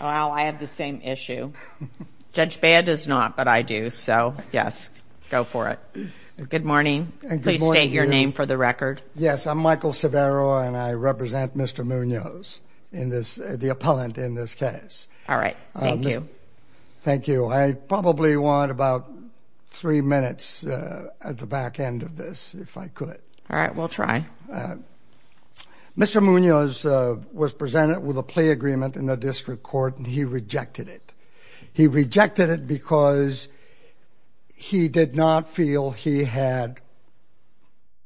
Oh, Al, I have the same issue. Judge Bea does not, but I do. So, yes, go for it. Good morning. Please state your name for the record. Yes, I'm Michael Severo, and I represent Mr. Munoz, the appellant in this case. All right, thank you. Thank you. I probably want about three minutes at the back end of this, if I could. All right, we'll try. Mr. Munoz was presented with a plea agreement in the district court, and he rejected it. He rejected it because he did not feel he had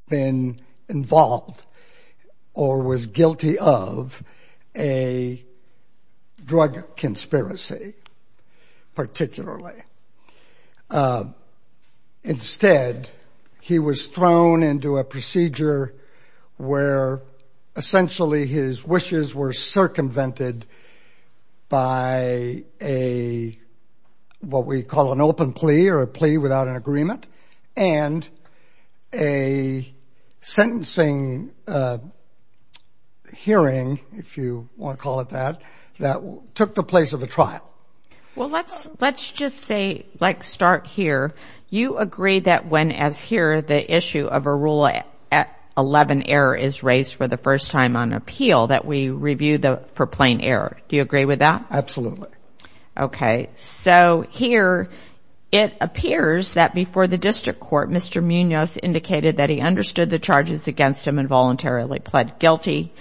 been involved or was guilty of a drug conspiracy, particularly. Instead, he was thrown into a procedure where essentially his wishes were circumvented by a, what we call an open plea or a plea without an agreement, and a sentencing hearing, if you want to call it that, that took the place of a trial. Well, let's just say, like, start here. You agree that when, as here, the issue of a Rule 11 error is raised for the first time on appeal, that we review for plain error. Do you agree with that? Absolutely. Okay. So, here, it appears that before the district court, Mr. Munoz indicated that he understood the charges against him and voluntarily pled guilty.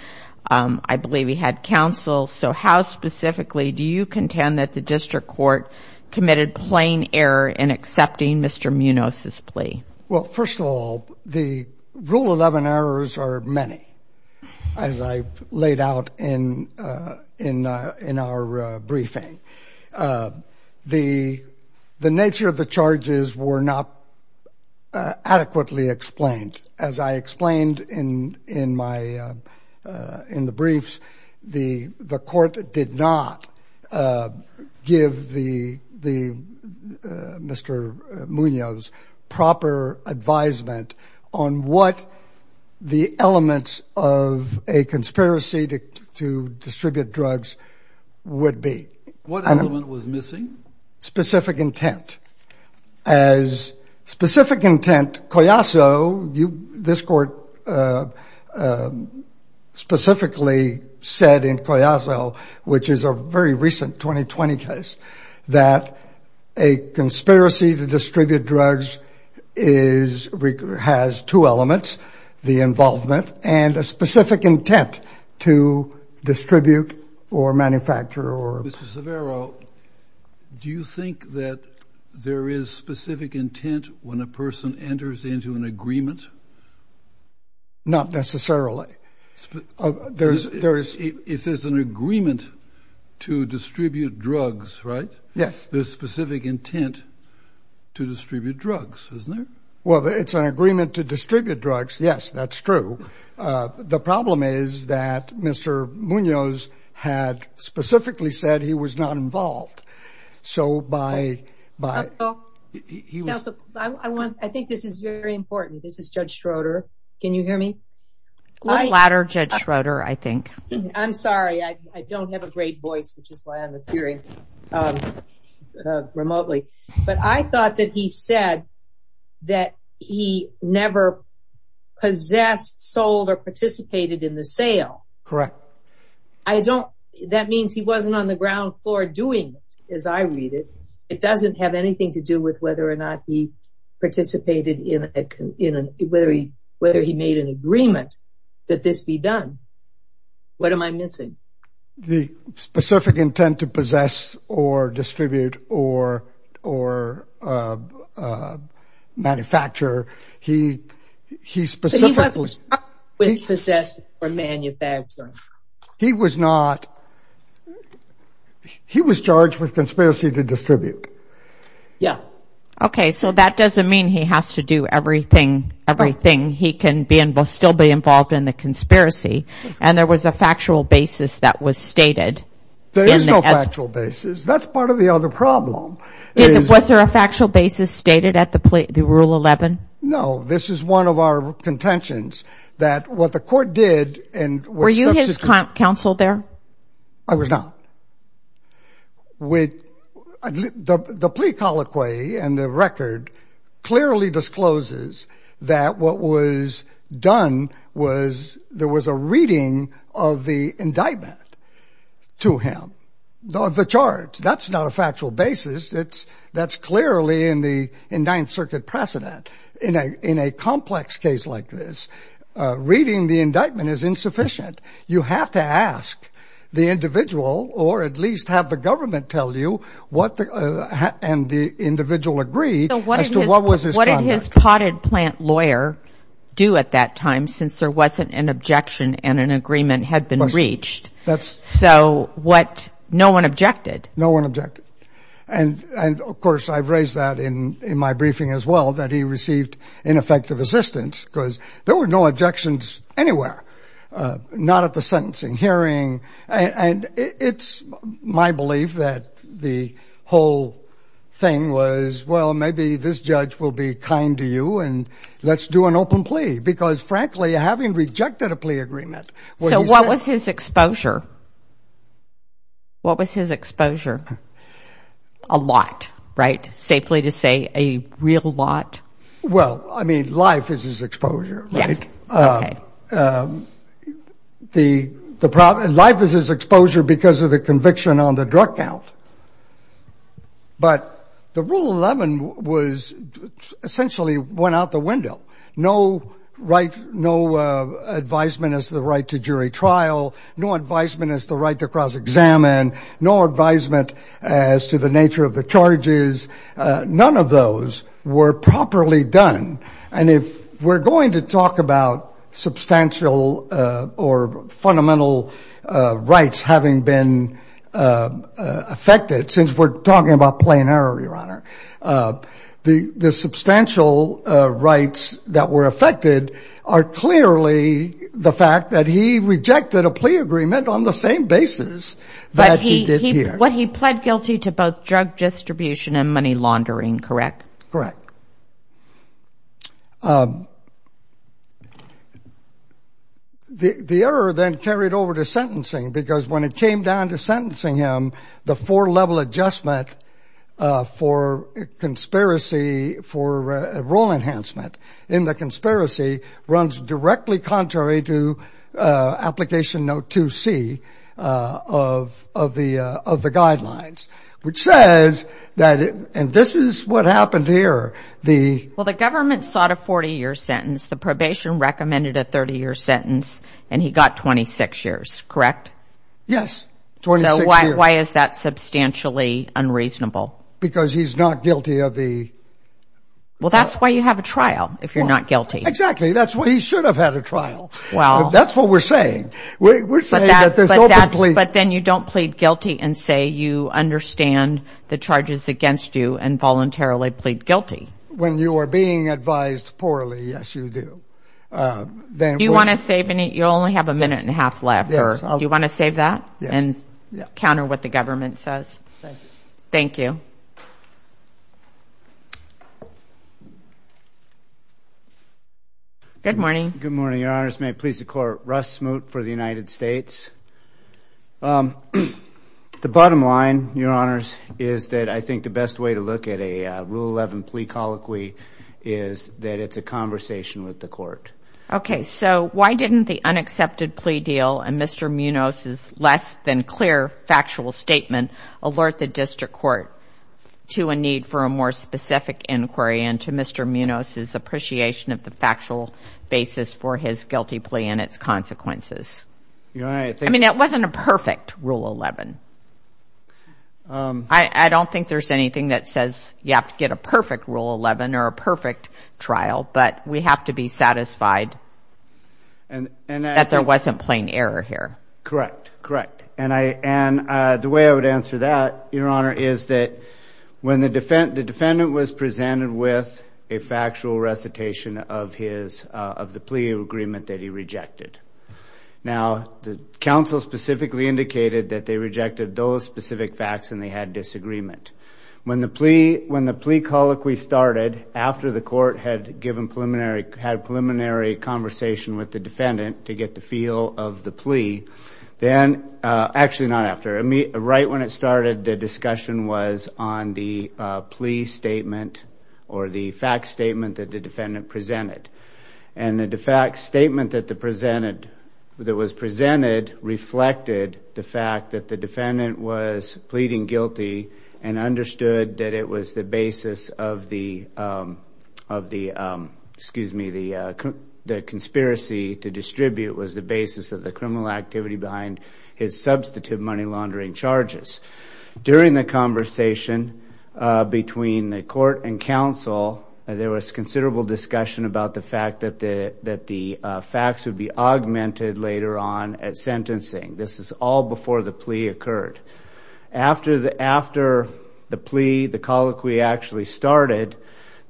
I believe he had counsel. So, how specifically do you contend that the district court committed plain error in accepting Mr. Munoz's plea? Well, first of all, the Rule 11 errors are many, as I laid out in our briefing. The nature of the charges were not adequately explained. As I explained in the briefs, the court did not give Mr. Munoz proper advisement on what the elements of a conspiracy to distribute drugs would be. What element was missing? Specific intent. As specific intent, Coyasso, this court specifically said in Coyasso, which is a very recent 2020 case, that a conspiracy to distribute drugs has two elements, the involvement and a specific intent to distribute or manufacture. Mr. Severo, do you think that there is specific intent when a person enters into an agreement? Not necessarily. If there's an agreement to distribute drugs, right? Yes. There's specific intent to distribute drugs, isn't there? Well, it's an agreement to distribute drugs, yes, that's true. The problem is that Mr. Munoz had specifically said he was not involved. I think this is very important. This is Judge Schroeder. Can you hear me? A little louder, Judge Schroeder, I think. I'm sorry. I don't have a great voice, which is why I'm appearing remotely. But I thought that he said that he never possessed, sold, or participated in the sale. Correct. That means he wasn't on the ground floor doing it, as I read it. It doesn't have anything to do with whether or not he participated, whether he made an agreement that this be done. What am I missing? The specific intent to possess or distribute or manufacture, he specifically- But he wasn't charged with possessing or manufacturing. He was not. He was charged with conspiracy to distribute. Yeah. Okay, so that doesn't mean he has to do everything. He can still be involved in the conspiracy. And there was a factual basis that was stated. There is no factual basis. That's part of the other problem. Was there a factual basis stated at the Rule 11? No. This is one of our contentions, that what the court did- Were you his counsel there? I was not. The plea colloquy and the record clearly discloses that what was done was there was a reading of the indictment to him of the charge. That's not a factual basis. That's clearly in the indicted circuit precedent. In a complex case like this, reading the indictment is insufficient. You have to ask the individual or at least have the government tell you and the individual agree as to what was his conduct. What did his potted plant lawyer do at that time since there wasn't an objection and an agreement had been reached? So no one objected. No one objected. And, of course, I've raised that in my briefing as well, that he received ineffective assistance because there were no objections anywhere. Not at the sentencing hearing. And it's my belief that the whole thing was, well, maybe this judge will be kind to you and let's do an open plea. Because, frankly, having rejected a plea agreement- So what was his exposure? What was his exposure? A lot, right? Safely to say, a real lot? Well, I mean, life is his exposure, right? Life is his exposure because of the conviction on the drug count. But the Rule 11 was essentially went out the window. No advisement as to the right to jury trial. No advisement as to the right to cross-examine. No advisement as to the nature of the charges. None of those were properly done. And if we're going to talk about substantial or fundamental rights having been affected, since we're talking about plain error, Your Honor, the substantial rights that were affected are clearly the fact that he rejected a plea agreement on the same basis that he did here. But he pled guilty to both drug distribution and money laundering, correct? Correct. The error then carried over to sentencing because when it came down to sentencing him, the four-level adjustment for conspiracy for a role enhancement in the conspiracy runs directly contrary to application note 2C of the guidelines, which says that, and this is what happened here. Well, the government sought a 40-year sentence. The probation recommended a 30-year sentence, and he got 26 years, correct? Yes, 26 years. So why is that substantially unreasonable? Because he's not guilty of the... Well, that's why you have a trial if you're not guilty. Exactly. That's why he should have had a trial. Well... That's what we're saying. But then you don't plead guilty and say you understand the charges against you and voluntarily plead guilty. When you are being advised poorly, yes, you do. Do you want to save any? You only have a minute and a half left. Do you want to save that and counter what the government says? Thank you. Thank you. Good morning. Good morning, Your Honors. May it please the Court, Russ Smoot for the United States. The bottom line, Your Honors, is that I think the best way to look at a Rule 11 plea colloquy is that it's a conversation with the Court. Okay, so why didn't the unaccepted plea deal and Mr. Munoz's less-than-clear factual statement alert the District Court to a need for a more specific inquiry and to Mr. Munoz's appreciation of the factual basis for his guilty plea and its consequences? I mean, that wasn't a perfect Rule 11. I don't think there's anything that says you have to get a perfect Rule 11 or a perfect trial, but we have to be satisfied that there wasn't plain error here. Correct. Correct. And the way I would answer that, Your Honor, is that when the defendant was presented with a factual recitation of the plea agreement that he rejected. Now, the counsel specifically indicated that they rejected those specific facts and they had disagreement. When the plea colloquy started after the Court had given preliminary, had preliminary conversation with the defendant to get the feel of the plea, then, actually not after. Right when it started, the discussion was on the plea statement or the fact statement that the defendant presented. And the fact statement that was presented reflected the fact that the defendant was pleading guilty and understood that it was the basis of the conspiracy to distribute, was the basis of the criminal activity behind his substantive money laundering charges. During the conversation between the Court and counsel, there was considerable discussion about the fact that the facts would be augmented later on at sentencing. This is all before the plea occurred. After the plea, the colloquy actually started,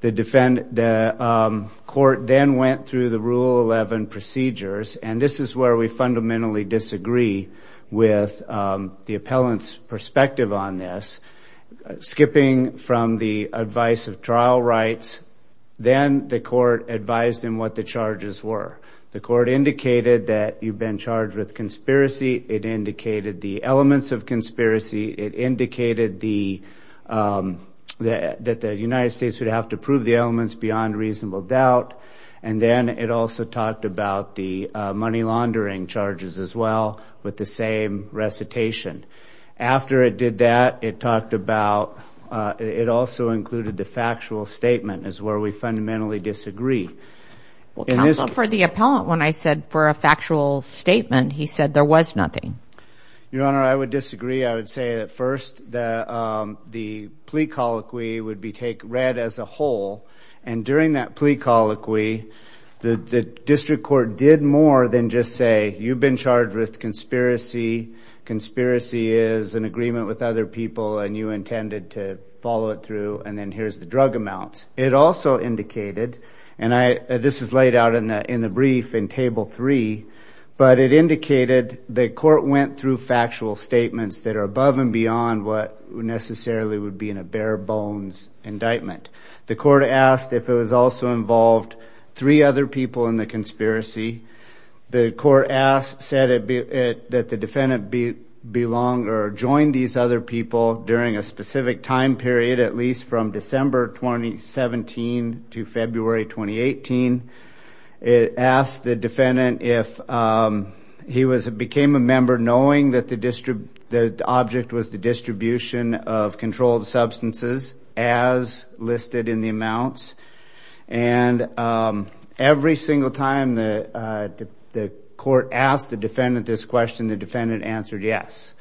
the Court then went through the Rule 11 procedures. And this is where we fundamentally disagree with the appellant's perspective on this. Skipping from the advice of trial rights, then the Court advised them what the charges were. The Court indicated that you've been charged with conspiracy. It indicated the elements of conspiracy. It indicated that the United States would have to prove the elements beyond reasonable doubt. And then it also talked about the money laundering charges as well with the same recitation. After it did that, it talked about, it also included the factual statement is where we fundamentally disagree. Counsel, for the appellant, when I said for a factual statement, he said there was nothing. Your Honor, I would disagree. I would say at first that the plea colloquy would be read as a whole. And during that plea colloquy, the District Court did more than just say, you've been charged with conspiracy, conspiracy is an agreement with other people, and you intended to follow it through, and then here's the drug amount. It also indicated, and this is laid out in the brief in Table 3, but it indicated the Court went through factual statements that are above and beyond what necessarily would be in a bare bones indictment. The Court asked if it was also involved three other people in the conspiracy. The Court said that the defendant belonged or joined these other people during a specific time period, at least from December 2017 to February 2018. It asked the defendant if he became a member knowing that the object was the distribution of controlled substances as listed in the amounts. And every single time the Court asked the defendant this question, the defendant answered yes.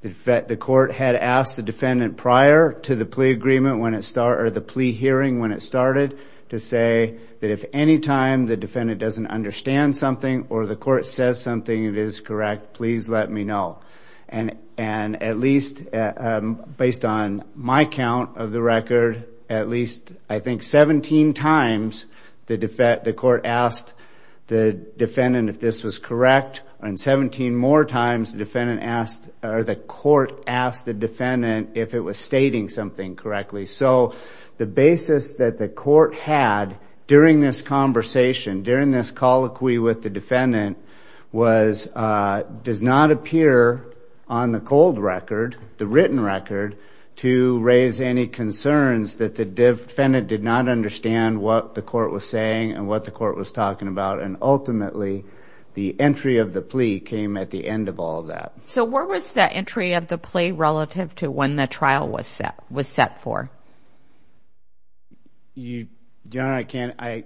The Court had asked the defendant prior to the plea agreement when it started, or the plea hearing when it started, to say that if any time the defendant doesn't understand something or the Court says something that is correct, please let me know. And at least based on my count of the record, at least I think 17 times the Court asked the defendant if this was correct, and 17 more times the Court asked the defendant if it was stating something correctly. So the basis that the Court had during this conversation, during this colloquy with the defendant, was it does not appear on the cold record, the written record, to raise any concerns that the defendant did not understand what the Court was saying and what the Court was talking about. And ultimately, the entry of the plea came at the end of all of that. So where was the entry of the plea relative to when the trial was set for? Your Honor,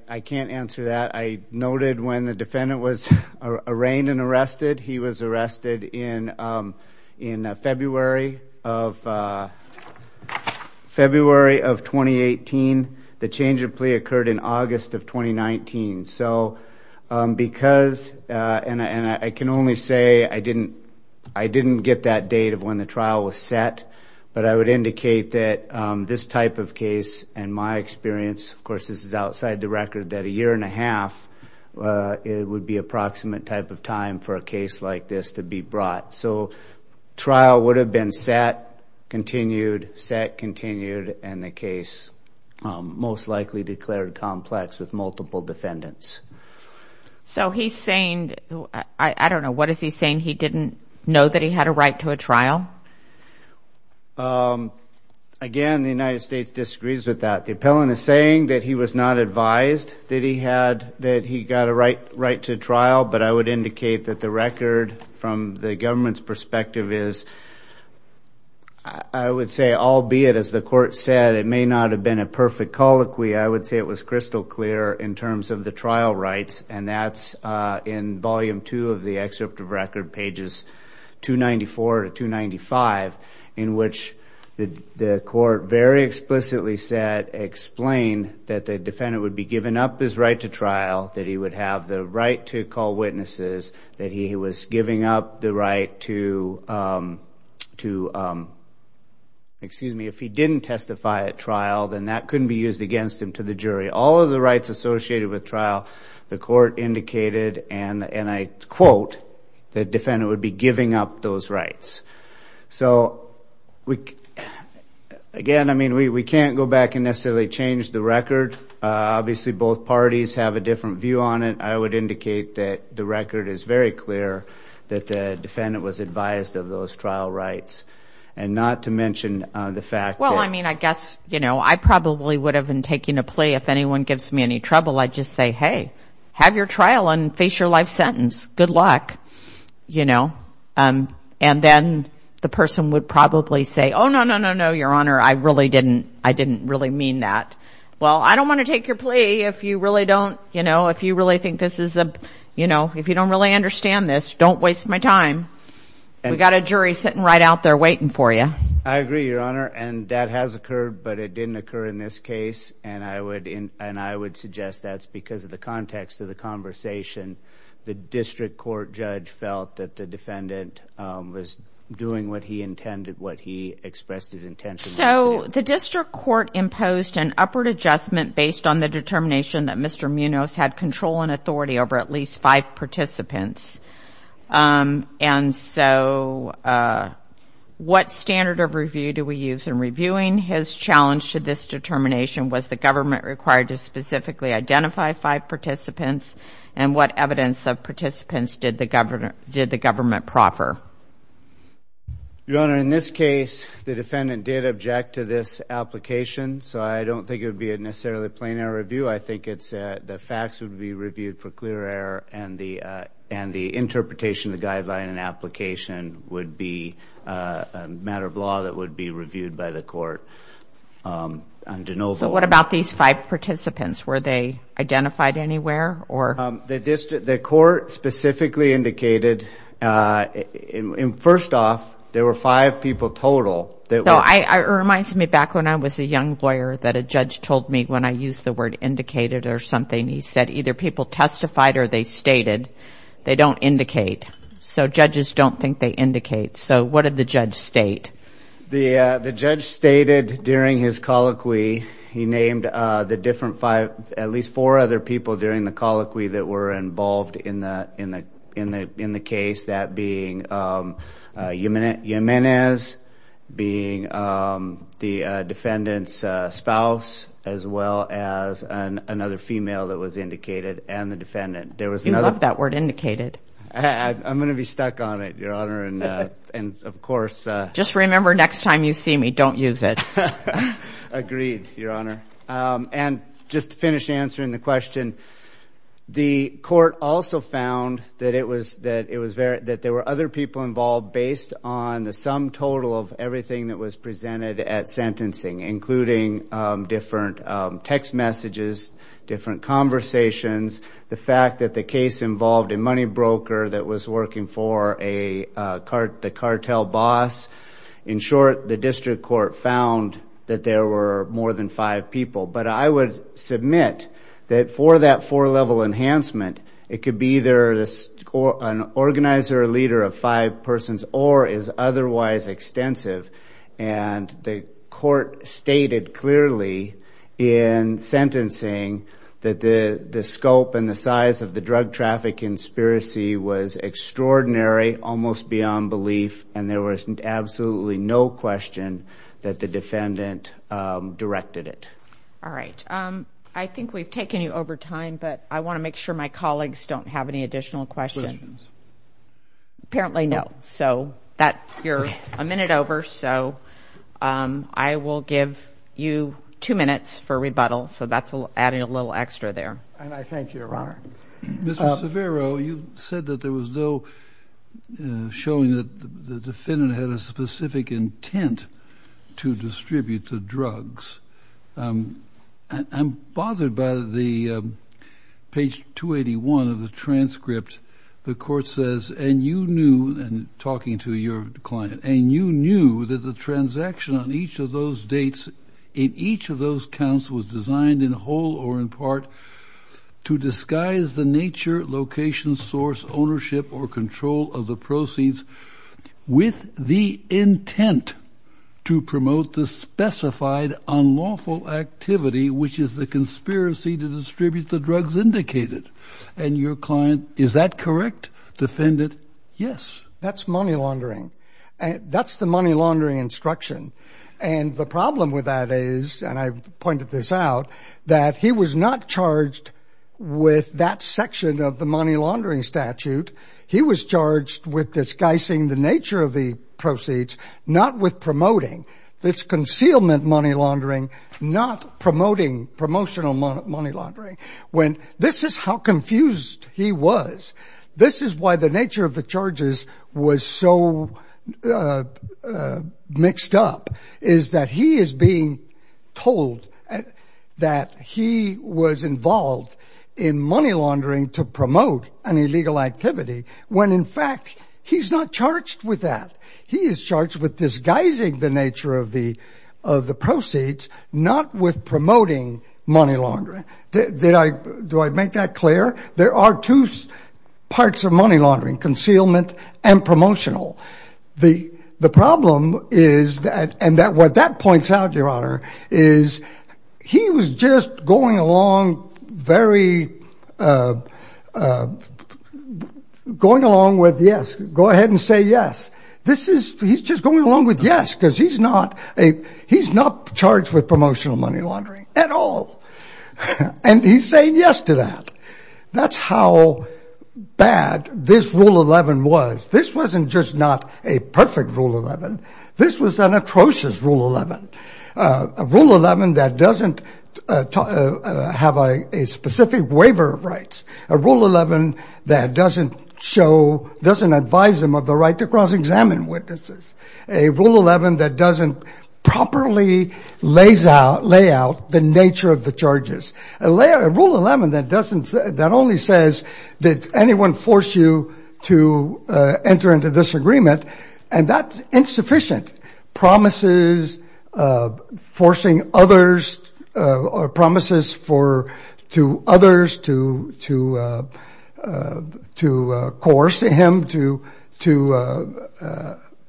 I can't answer that. I noted when the defendant was arraigned and arrested, he was arrested in February of 2018. The change of plea occurred in August of 2019. So because, and I can only say I didn't get that date of when the trial was set, but I would indicate that this type of case, in my experience, of course this is outside the record, that a year and a half would be approximate type of time for a case like this to be brought. So trial would have been set, continued, set, continued, and the case most likely declared complex with multiple defendants. So he's saying, I don't know, what is he saying? He didn't know that he had a right to a trial? Again, the United States disagrees with that. The appellant is saying that he was not advised that he got a right to trial, but I would indicate that the record from the government's perspective is, I would say, albeit as the court said, it may not have been a perfect colloquy, I would say it was crystal clear in terms of the trial rights, and that's in volume two of the excerpt of record, pages 294 to 295, in which the court very explicitly said, explained that the defendant would be given up his right to trial, that he would have the right to call witnesses, that he was giving up the right to, excuse me, if he didn't testify at trial, then that couldn't be used against him to the jury. All of the rights associated with trial, the court indicated, and I quote, the defendant would be giving up those rights. So again, I mean, we can't go back and necessarily change the record. Obviously, both parties have a different view on it. I would indicate that the record is very clear that the defendant was advised of those trial rights, and not to mention the fact that. Well, I mean, I guess, you know, I probably would have been taking a plea if anyone gives me any trouble, I'd just say, hey, have your trial and face your life sentence, good luck, you know. And then the person would probably say, oh, no, no, no, no, Your Honor, I really didn't, I didn't really mean that. Well, I don't want to take your plea if you really don't, you know, if you really think this is a, you know, if you don't really understand this, don't waste my time. We've got a jury sitting right out there waiting for you. I agree, Your Honor, and that has occurred, but it didn't occur in this case, and I would suggest that's because of the context of the conversation. The district court judge felt that the defendant was doing what he intended, what he expressed his intentions. So the district court imposed an upward adjustment based on the determination that Mr. Munoz had control and authority over at least five participants, and so what standard of review do we use in reviewing his challenge to this determination? Was the government required to specifically identify five participants, and what evidence of participants did the government proffer? Your Honor, in this case, the defendant did object to this application, so I don't think it would be necessarily a plain error review. I think the facts would be reviewed for clear error, and the interpretation of the guideline and application would be a matter of law that would be reviewed by the court. So what about these five participants? Were they identified anywhere? The court specifically indicated, first off, there were five people total. It reminds me back when I was a young lawyer that a judge told me when I used the word indicated or something, he said either people testified or they stated. They don't indicate. So judges don't think they indicate. So what did the judge state? The judge stated during his colloquy, he named at least four other people during the colloquy that were involved in the case, that being Jimenez, being the defendant's spouse, as well as another female that was indicated, and the defendant. You love that word indicated. I'm going to be stuck on it, Your Honor, and, of course. Just remember, next time you see me, don't use it. Agreed, Your Honor. And just to finish answering the question, the court also found that there were other people involved based on the sum total of everything that was presented at sentencing, including different text messages, different conversations, the fact that the case involved a money broker that was working for the cartel boss. In short, the district court found that there were more than five people. But I would submit that for that four-level enhancement, it could be either an organizer or leader of five persons or is otherwise extensive. And the court stated clearly in sentencing that the scope and the size of the drug traffic conspiracy was extraordinary, almost beyond belief, and there was absolutely no question that the defendant directed it. All right. I think we've taken you over time, but I want to make sure my colleagues don't have any additional questions. Questions. Apparently, no. So you're a minute over, so I will give you two minutes for rebuttal. So that's adding a little extra there. And I thank you, Your Honor. Mr. Severo, you said that there was no showing that the defendant had a specific intent to distribute the drugs. I'm bothered by the page 281 of the transcript. The court says, and you knew, and talking to your client, and you knew that the transaction on each of those dates in each of those counts was designed in whole or in part to disguise the nature, location, source, ownership, or control of the proceeds with the intent to promote the specified unlawful activity, which is the conspiracy to distribute the drugs indicated. And your client, is that correct, defendant? Yes. That's money laundering. That's the money laundering instruction. And the problem with that is, and I've pointed this out, that he was not charged with that section of the money laundering statute. He was charged with disguising the nature of the proceeds, not with promoting. It's concealment money laundering, not promoting promotional money laundering. This is how confused he was. This is why the nature of the charges was so mixed up, is that he is being told that he was involved in money laundering to promote an illegal activity when, in fact, he's not charged with that. He is charged with disguising the nature of the proceeds, not with promoting money laundering. Do I make that clear? There are two parts of money laundering, concealment and promotional. The problem is that, and what that points out, Your Honor, is he was just going along with yes, go ahead and say yes. He's just going along with yes because he's not charged with promotional money laundering at all. And he's saying yes to that. That's how bad this Rule 11 was. This wasn't just not a perfect Rule 11. This was an atrocious Rule 11, a Rule 11 that doesn't have a specific waiver of rights, a Rule 11 that doesn't show, doesn't advise him of the right to cross-examine witnesses, a Rule 11 that doesn't properly lay out the nature of the charges, a Rule 11 that only says that anyone force you to enter into disagreement, and that's insufficient. Promises forcing others or promises to others to coerce him to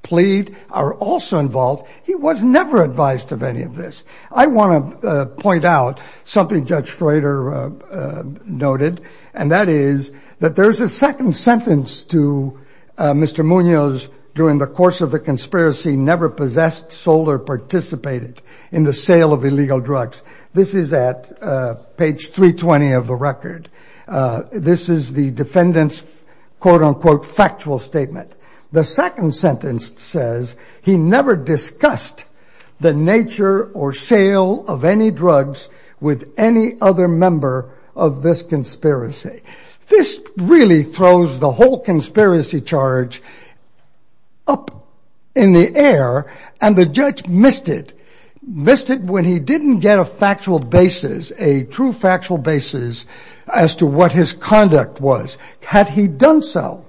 plead are also involved. He was never advised of any of this. I want to point out something Judge Schroeder noted, and that is that there is a second sentence to Mr. Munoz during the course of the conspiracy, never possessed, sold, or participated in the sale of illegal drugs. This is at page 320 of the record. This is the defendant's quote-unquote factual statement. The second sentence says he never discussed the nature or sale of any drugs with any other member of this conspiracy. This really throws the whole conspiracy charge up in the air, and the judge missed it, missed it when he didn't get a factual basis, a true factual basis as to what his conduct was. Had he done so,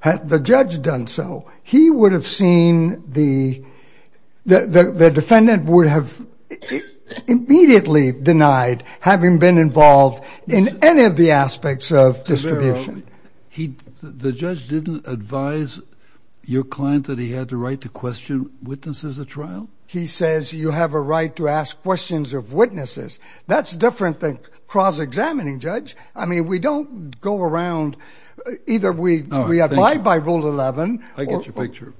had the judge done so, he would have seen the defendant would have immediately denied having been involved in any of the aspects of distribution. The judge didn't advise your client that he had the right to question witnesses at trial? He says you have a right to ask questions of witnesses. That's different than cross-examining, Judge. I mean, we don't go around. Either we abide by Rule 11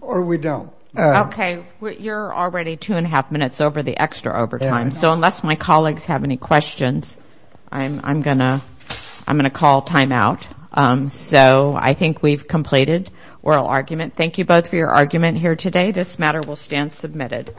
or we don't. Okay. You're already two and a half minutes over the extra overtime, so unless my colleagues have any questions, I'm going to call time out. So I think we've completed oral argument. Thank you both for your argument here today. This matter will stand submitted.